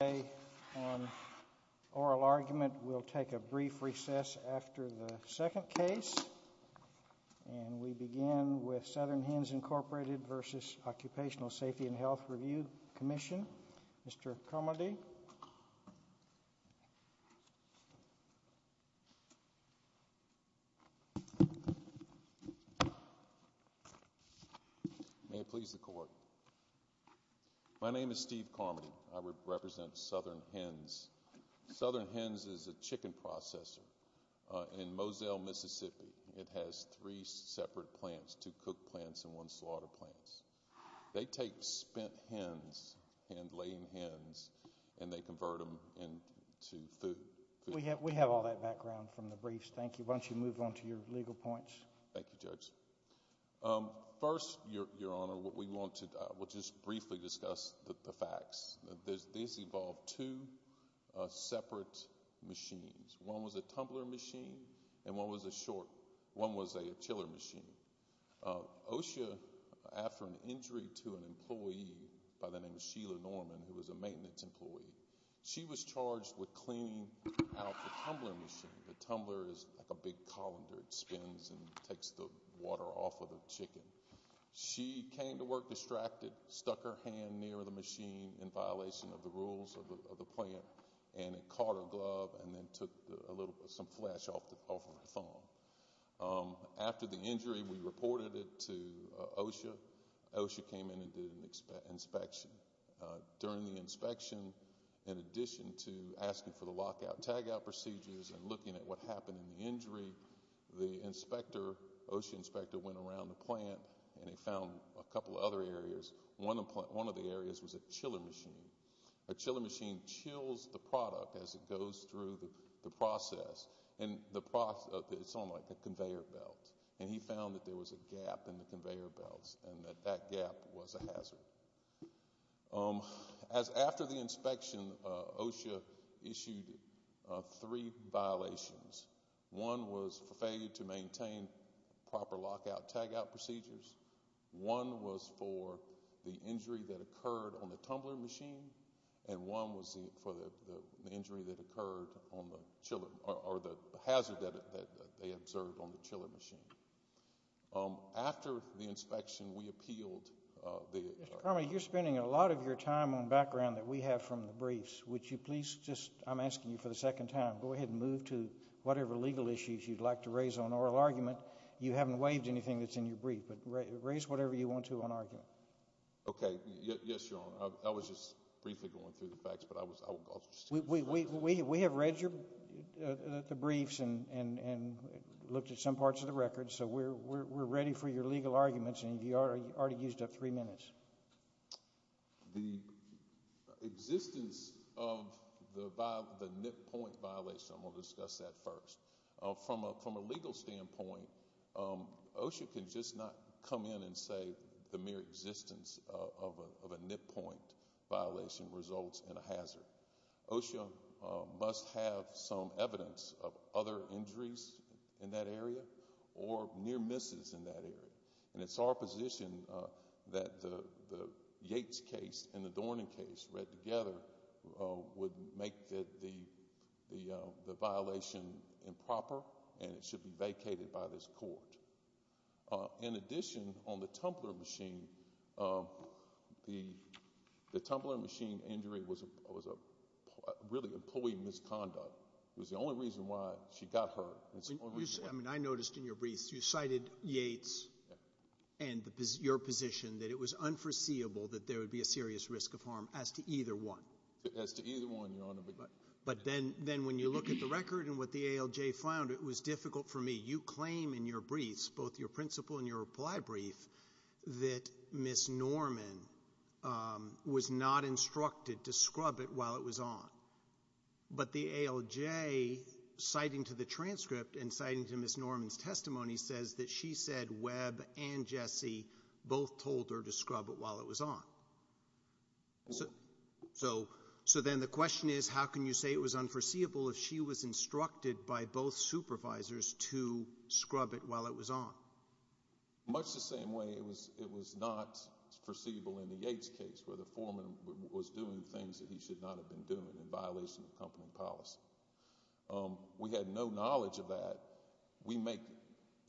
Today on Oral Argument, we'll take a brief recess after the second case, and we begin with Southern Hens, Incorporated v. Occupational Safety and Health Review Commission. Mr. Carmody. May it please the court. My name is Steve Carmody. I represent Southern Hens. Southern Hens is a chicken processor in Moselle, Mississippi. It has three separate plants, two cook plants and one slaughter plant. They take spent hens, laying hens, and they convert them into food. We have all that background from the briefs. Thank you. Why don't you move on to your legal points. Thank you, Judge. First, Your Honor, we want to just briefly discuss the facts. This involved two separate machines. One was a tumbler machine and one was a chiller machine. OSHA, after an injury to an employee by the name of Sheila Norman, who was a maintenance employee, she was charged with cleaning out the tumbler machine. The tumbler is like a big colander. It spins and takes the water off of the chicken. She came to work distracted, stuck her hand near the machine in violation of the rules of the plant. It caught her glove and took some flesh off of her thumb. After the injury, we reported it to OSHA. OSHA came in and did an inspection. During the inspection, in addition to asking for the lockout tagout procedures and looking at what happened in the injury, the OSHA inspector went around the plant and he found a couple of other areas. One of the areas was the chiller machine. A chiller machine chills the product as it goes through the process. It's on like a conveyor belt. He found that there was a gap in the conveyor belt and that that gap was a hazard. After the inspection, OSHA issued three violations. One was for failure to maintain proper lockout tagout procedures. One was for the injury that occurred on the tumbler machine and one was for the injury that occurred on the chiller or the hazard that they observed on the chiller machine. After the inspection, we appealed. Mr. Carmody, you're spending a lot of your time on background that we have from the briefs. Would you please just, I'm asking you for the second time, go ahead and move to whatever legal issues you'd like to raise on oral argument. You haven't waived anything that's in your brief, but raise whatever you want to on argument. Okay. Yes, Your Honor. I was just briefly going through the facts, but I was, we have read the briefs and looked at some parts of the record, so we're ready for your legal arguments and you already used up three minutes. The existence of the NIP point violation, I'm going to discuss that first. From a legal standpoint, OSHA can just not come in and say the mere existence of a NIP point violation results in a hazard. OSHA must have some evidence of other injuries in that area or near misses in that area. And it's our position that the Yates case and the Dornan case read together would make the violation improper and it should be vacated by this court. In addition, on the Tumblr machine, the Tumblr machine injury was really a pulley misconduct. It was the only reason why she got hurt. I noticed in your briefs you cited Yates and your position that it was unforeseeable that there would be a serious risk of harm as to either one. As to either one, Your Honor. But then when you look at the record and what the ALJ found, it was difficult for me. You claim in your briefs, both your principle and your reply brief, that Ms. Norman was not instructed to scrub it while it was on. But the ALJ citing to the transcript and citing to Ms. Norman's So then the question is, how can you say it was unforeseeable if she was instructed by both supervisors to scrub it while it was on? Much the same way it was not foreseeable in the Yates case where the foreman was doing things that he should not have been doing in violation of company policy. We had no knowledge of that. We make,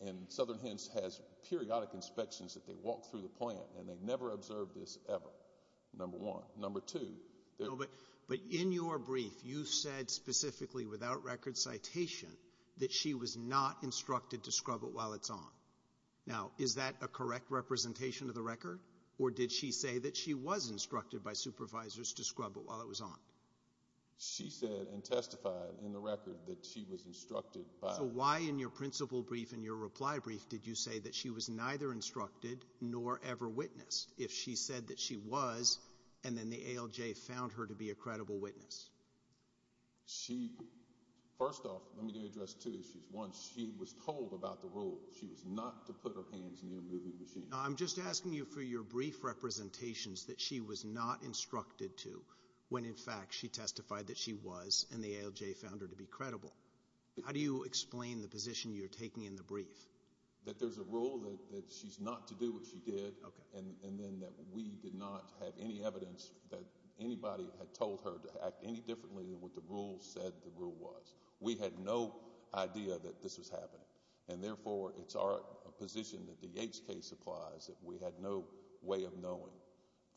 and Southern Hens has periodic inspections that they walk through the plant and they never observed this ever. Number one. Number two. But in your brief, you said specifically without record citation that she was not instructed to scrub it while it's on. Now, is that a correct representation of the record? Or did she say that she was instructed by supervisors to scrub it while it was on? She said and testified in the record that she was instructed. So why in your principle brief and your reply brief did you say that she was neither instructed nor ever witnessed if she said that she was and then the ALJ found her to be a credible witness? She first off, let me do address two issues. One, she was told about the rule. She was not to put her hands in your movie machine. I'm just asking you for your brief representations that she was not instructed to when in fact she testified that she was and the ALJ found her to be credible. How do you explain the position you're taking in the brief that there's a rule that she's not to do what she did and then that we did not have any evidence that anybody had told her to act any differently than what the rule said the rule was. We had no idea that this was happening and therefore it's our position that the Yates case applies that we had no way of knowing.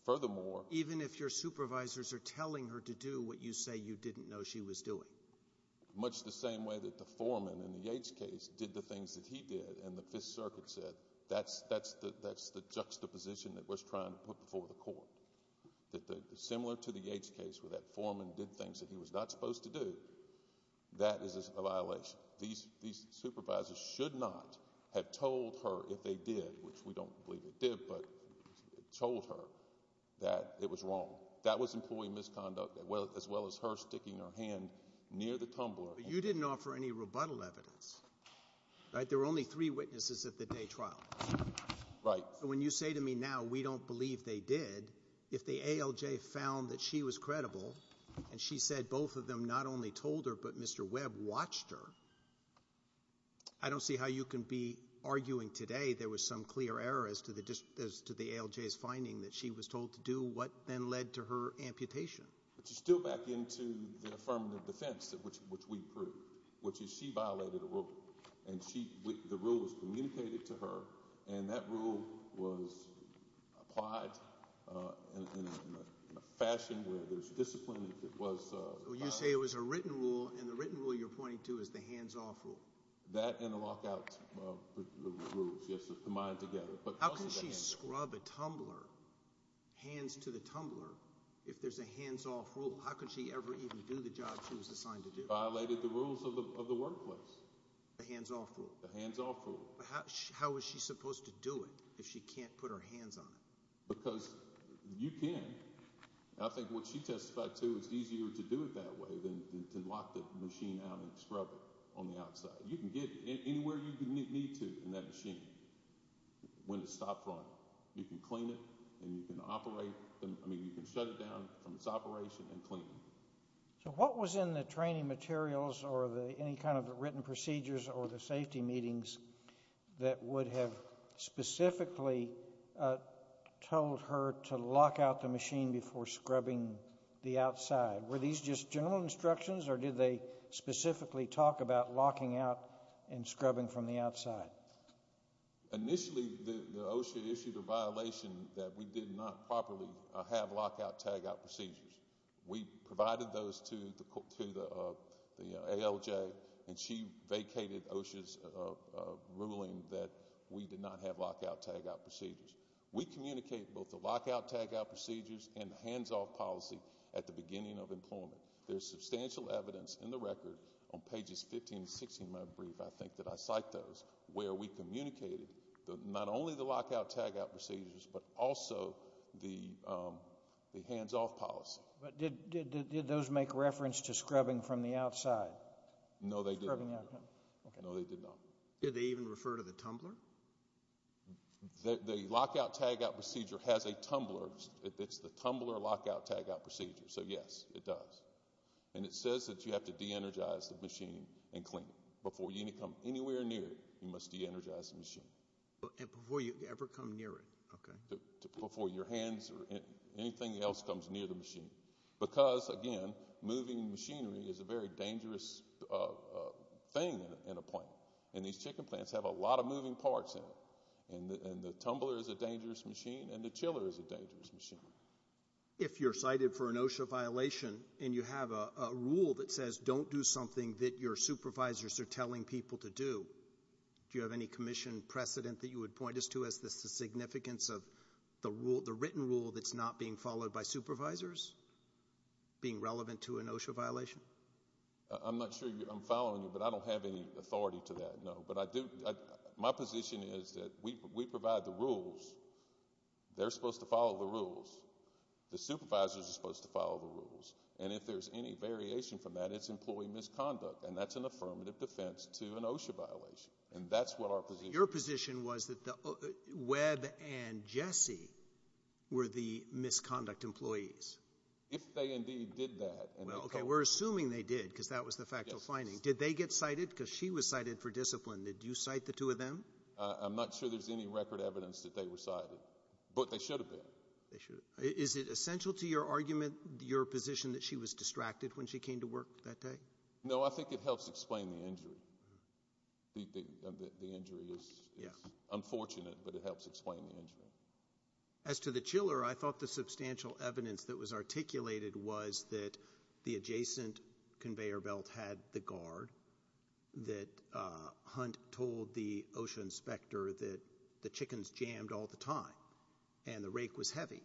Furthermore, even if your supervisors are telling her to do what you say you didn't know she was doing. Much the same way that the foreman in the Yates case did the things that he did and the Fifth Circuit said that's the juxtaposition that was trying to put before the court. Similar to the Yates case where that foreman did things that he was not supposed to do, that is a violation. These supervisors should not have told her if they did, which we don't believe they did, but told her that it was wrong. That was employee misconduct as well as her sticking her hand near the tumbler. You didn't offer any rebuttal evidence. There were only three witnesses at the day trial. When you say to me now we don't believe they did, if the ALJ found that she was credible and she said both of them not only told her but Mr. Webb watched her, I don't see how you can be arguing today there was some clear error as to the ALJ's finding that she was told to do what then led to her amputation. But you're still back into the affirmative defense which we proved, which is she violated a rule and the rule was communicated to her and that rule was applied in a fashion where there's discipline if it was violated. So you say it was a written rule and the written rule you're pointing to is the hands-off rule? That and the lockout rules, yes, combined together. How can she scrub a tumbler, hands to the tumbler, if there's a hands-off rule? How could she ever even do the job she was assigned to do? Violated the rules of the workplace. The hands-off rule? The hands-off rule. But how was she supposed to do it if she can't put her hands on it? Because you can. I think what she testified to, it's easier to do it that way than to lock the machine out and scrub it on the outside. You can get anywhere you need to in that machine. When it's stopped running, you can clean it and you can shut it down from its operation and clean it. So what was in the training materials or any kind of written procedures or the safety meetings that would have specifically told her to lock out the machine before scrubbing the outside? Were these just general instructions or did they specifically talk about locking out and scrubbing from the outside? Initially, OSHA issued a violation that we did not properly have lock-out, tag-out procedures. We provided those to the ALJ and she vacated OSHA's ruling that we did not have lock-out, tag-out procedures. We communicate both the lock-out, tag-out procedures and the hands-off policy at the beginning of employment. There's substantial evidence in the record on pages 15 and 16 of my brief, I think that I cite those, where we communicated not only the lock-out, tag-out procedures but also the hands-off policy. But did those make reference to scrubbing from the outside? No, they did not. Did they even refer to the tumbler? The lock-out, tag-out procedure has a tumbler. It's the tumbler lock-out, tag-out procedure. So yes, it does. And it says that you have to de-energize the machine and clean it. Before you come anywhere near it, you must de-energize the machine. And before you ever come near it? Before your hands or anything else comes near the machine. Because, again, moving machinery is a very dangerous thing in a plant. And these chicken plants have a lot of moving parts in them. And the tumbler is a dangerous machine and the chiller is a dangerous machine. If you're cited for an OSHA violation and you have a rule that says don't do something that your supervisors are telling people to do, do you have any commission precedent that you would point us to as the significance of the written rule that's not being followed by supervisors being relevant to an OSHA violation? I'm not sure I'm following you, but I don't have any authority to that, no. But my position is that we provide the rules. They're supposed to follow the rules. The supervisors are supposed to follow the rules. And if there's any variation from that, it's employee misconduct. And that's an affirmative defense to an OSHA violation. And that's what our position is. Your position was that Webb and Jesse were the misconduct employees. If they indeed did that. Well, okay, we're assuming they did, because that was the factual finding. Did they get cited? Because she was cited for discipline. Did you cite the two of them? I'm not sure there's any record evidence that they were cited. But they should have been. Is it essential to your argument, your position, that she was distracted when she came to work that day? No, I think it helps explain the injury. The injury is unfortunate, but it helps explain the injury. As to the chiller, I thought the substantial evidence that was articulated was that the adjacent conveyor belt had the guard that Hunt told the OSHA inspector that the chickens jammed all the time and the rake was heavy.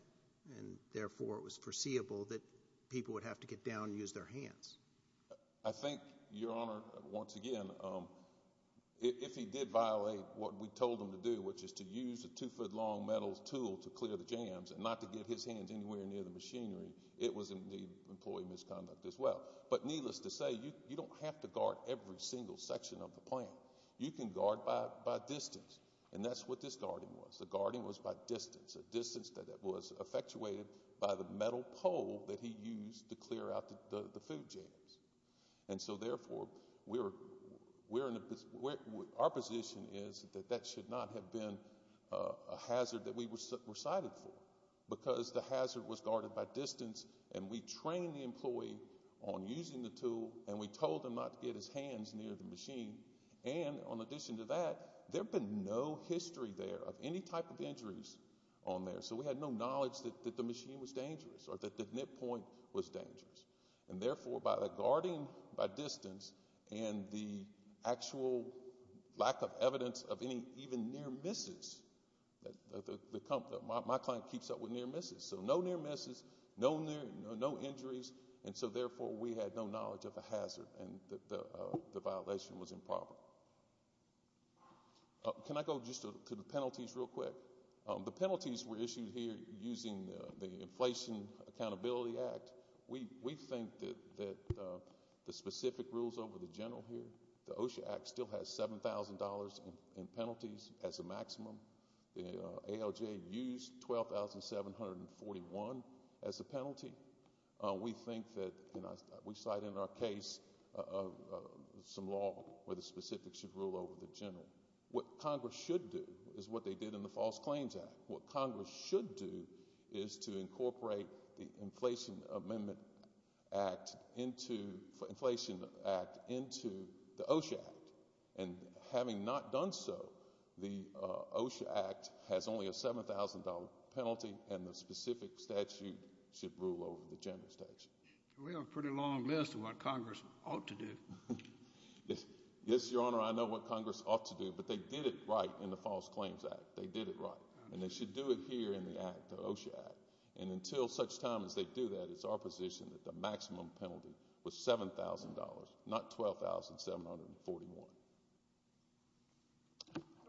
And therefore, it was foreseeable that people would have to get down and use their hands. I think, Your Honor, once again, if he did violate what we told him to do, which is to use a two-foot-long metal tool to clear the jams and not to get his hands anywhere near the machinery, it was indeed employee misconduct as well. But needless to say, you don't have to guard every single section of the plant. You can guard by distance. And that's what this guarding was. The guarding was by distance, a distance that was effectuated by the metal pole that he used to clear out the food jams. And so therefore, our position is that that should not have been a hazard that we were cited for because the hazard was guarded by distance and we trained the employee on using the tool and we told him not to get his hands near the machine. And in addition to that, there had been no history there of any type of injuries on there. So we had no knowledge that the machine was dangerous or that the nip point was dangerous. And therefore, by the guarding by distance and the actual lack of evidence of any even near misses, my client keeps up with near misses. So no near misses, no injuries. And so therefore, we had no knowledge of a hazard and the violation was improper. Can I go just to the penalties real quick? The penalties were issued here using the Inflation Accountability Act. We think that the specific rules over the general here, the OSHA Act still has $7,000 in penalties as a maximum. The ALJ used $12,741 as a penalty. We think that we cite in our case some law where the specifics should rule over the general. What Congress should do is what they did in the False Claims Act. What Congress should do is to incorporate the Inflation Amendment Act into the OSHA Act. And having not done so, the OSHA Act has only a $7,000 penalty and the specific statute should rule over the general statute. We have a pretty long list of what Congress ought to do. Yes, Your Honor, I know what Congress ought to do, but they did it right in the False Claims Act. They did it right. And they should do it here in the OSHA Act. And until such time as they do that, it's our position that the maximum penalty was $7,000, not $12,741.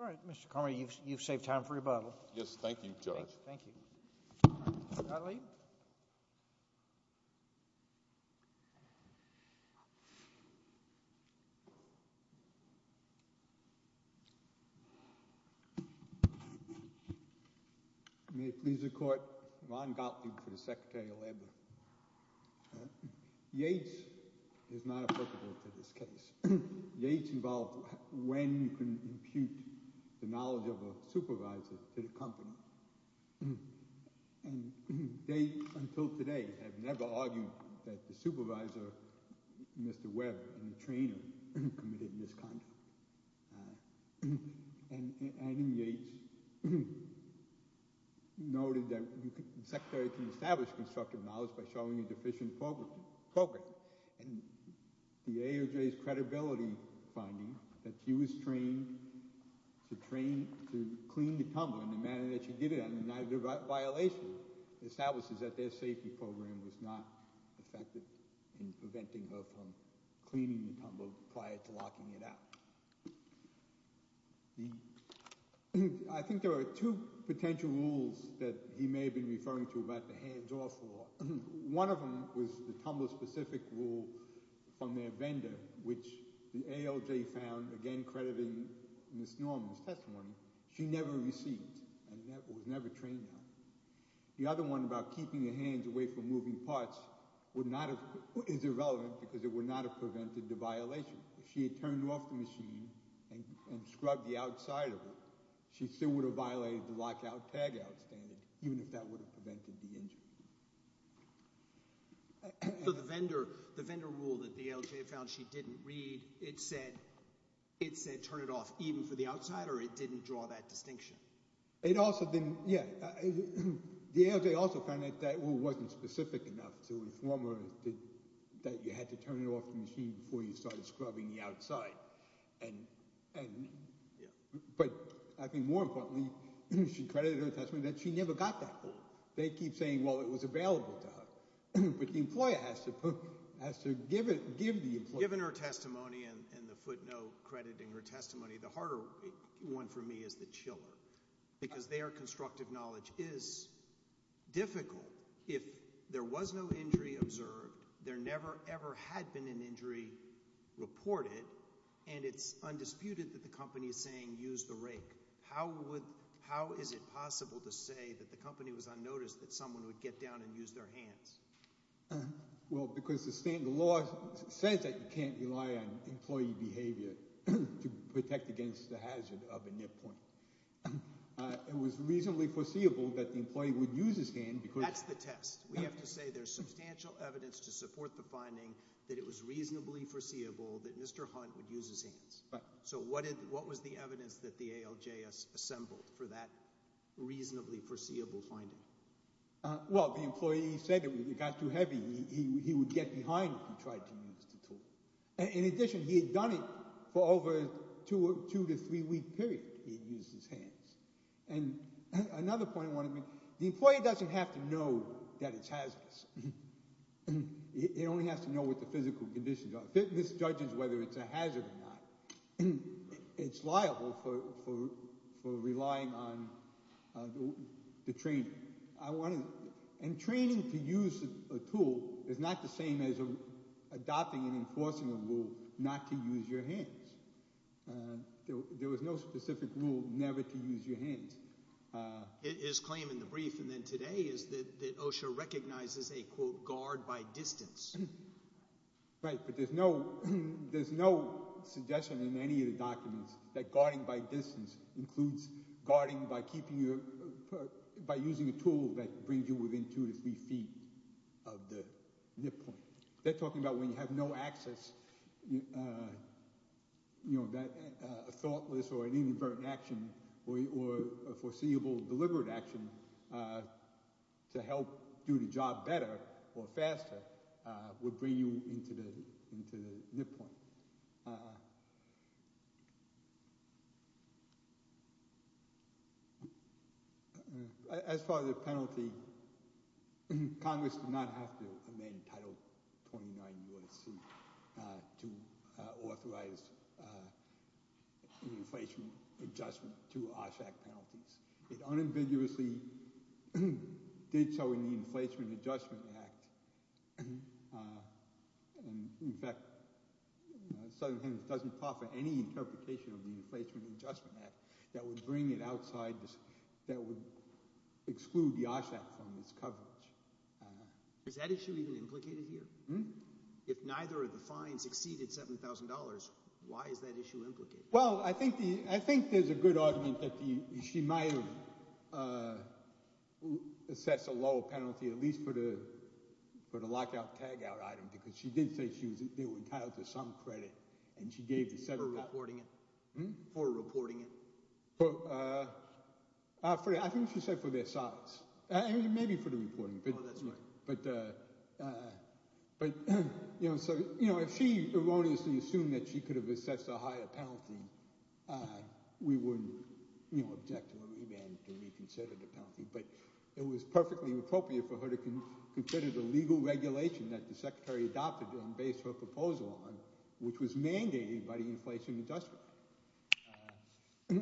All right, Mr. Comrie, you've saved time for rebuttal. Yes, thank you, Judge. Thank you. All right, Mr. Gottlieb? May it please the Court, Ron Gottlieb for the Secretary of Labor. Yates is not applicable to this case. Yates involved when you can impute the knowledge of a supervisor to the company. And they, until today, have never argued that the supervisor, Mr. Webb, and the trainer committed misconduct. And in Yates, he noted that the secretary can establish constructive knowledge by showing a deficient program. And the AOJ's credibility finding that she was trained to clean the tumble in the manner that she did it under neither violation establishes that their safety program was not effective in preventing her from cleaning the tumble prior to locking it out. I think there are two potential rules that he may have been referring to about the hands-off law. One of them was the tumble-specific rule from their vendor, which the AOJ found, again crediting Ms. Norman's testimony, she never received and was never trained on. The other one about keeping your hands away from moving parts is irrelevant because it would not have prevented the violation. If she had turned off the machine and scrubbed the outside of it, she still would have violated the lockout-tagout standard, even if that would have prevented the injury. So the vendor rule that the AOJ found she didn't read, it said turn it off even for the outsider, or it didn't draw that distinction? It also didn't, yeah. The AOJ also found that that rule wasn't specific enough to inform her that you had to turn it off the machine before you started scrubbing the outside. But I think more importantly, she credited her testimony that she never got that hold. They keep saying, well, it was available to her. But the employer has to give the employer. Given her testimony and the footnote crediting her testimony, the harder one for me is the chiller because their constructive knowledge is difficult. If there was no injury observed, there never, ever had been an injury reported, and it's undisputed that the company is saying use the rake, how is it possible to say that the company was unnoticed, that someone would get down and use their hands? Well, because the law says that you can't rely on employee behavior to protect against the hazard of a nip point. It was reasonably foreseeable that the employee would use his hand. That's the test. We have to say there's substantial evidence to support the finding that it was reasonably foreseeable that Mr. Hunt would use his hands. So what was the evidence that the ALJS assembled for that reasonably foreseeable finding? Well, the employee said that if it got too heavy, he would get behind if he tried to use the tool. In addition, he had done it for over a 2- to 3-week period, he had used his hands. And another point I want to make, the employee doesn't have to know that it's hazardous. He only has to know what the physical conditions are. This judges whether it's a hazard or not. It's liable for relying on the training. And training to use a tool is not the same as adopting and enforcing a rule not to use your hands. There was no specific rule never to use your hands. His claim in the brief and then today is that OSHA recognizes a, quote, guard by distance. Right, but there's no suggestion in any of the documents that guarding by distance includes guarding by using a tool that brings you within 2- to 3-feet of the nip point. They're talking about when you have no access, you know, that thoughtless or inadvertent action or foreseeable deliberate action to help do the job better or faster would bring you into the nip point. As far as the penalty, Congress did not have to amend Title 29 U.S.C. to authorize an inflation adjustment to OSHAC penalties. It unambiguously did so in the Inflation Adjustment Act. In fact, Southern Hemisphere doesn't offer any interpretation of the Inflation Adjustment Act that would bring it outside, that would exclude the OSHAC from its coverage. Is that issue even implicated here? If neither of the fines exceeded $7,000, why is that issue implicated? Well, I think there's a good argument that she might have assessed a lower penalty at least for the lockout tagout item because she did say they were entitled to some credit For reporting it? I think she said for their size, maybe for the reporting. Oh, that's right. But, you know, if she erroneously assumed that she could have assessed a higher penalty, we wouldn't object to a remand to reconsider the penalty. But it was perfectly appropriate for her to consider the legal regulation that the Secretary adopted and based her proposal on, which was mandated by the Inflation Adjustment Act.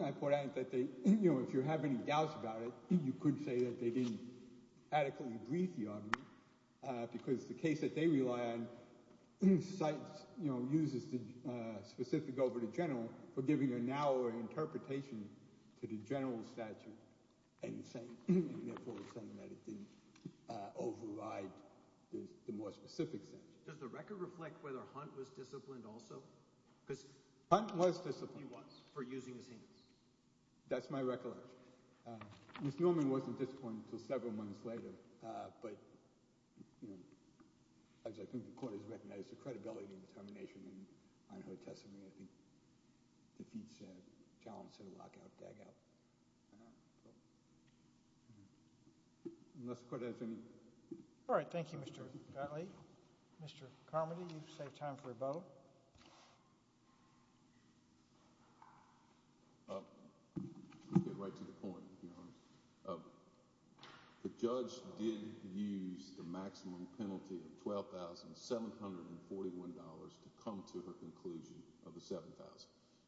I point out that if you have any doubts about it, you could say that they didn't adequately brief the argument because the case that they rely on uses the specific over the general for giving a narrower interpretation to the general statute and therefore saying that it didn't override the more specific statute. Does the record reflect whether Hunt was disciplined also? Hunt was disciplined. For using his hands. That's my recollection. Ms. Newman wasn't disciplined until several months later, but as I think the Court has recognized, the credibility and determination in her testimony I think defeats a challenge to the lockout tagout. Unless the Court has any... All right, thank you, Mr. Gottlieb. Mr. Carmody, you've saved time for a vote. I'll get right to the point, Your Honor. The judge did use the maximum penalty of $12,741 to come to her conclusion of the $7,000.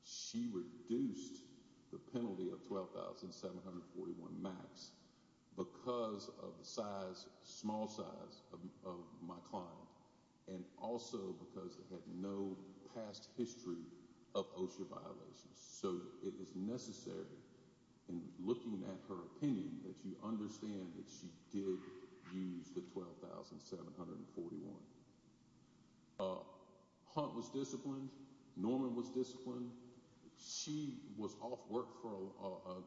She reduced the penalty of $12,741 max because of the small size of my client and also because it had no past history of OSHA violations. So it is necessary, in looking at her opinion, that you understand that she did use the $12,741. Hunt was disciplined. Norman was disciplined. She was off work for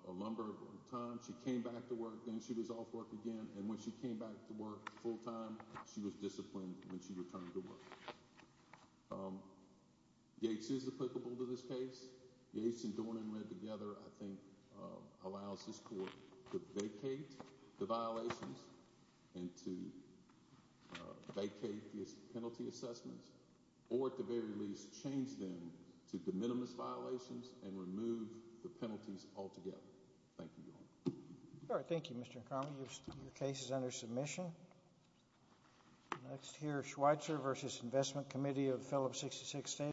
a number of times. She came back to work, then she was off work again, and when she came back to work full-time, she was disciplined when she returned to work. Yates is applicable to this case. Yates and Dornan read together, I think, allows this Court to vacate the violations and to vacate these penalty assessments or, at the very least, change them to de minimis violations and remove the penalties altogether. Thank you, Your Honor. All right, thank you, Mr. Ingram. Your case is under submission. Next here, Schweitzer v. Investment Committee of Phillips 66 State.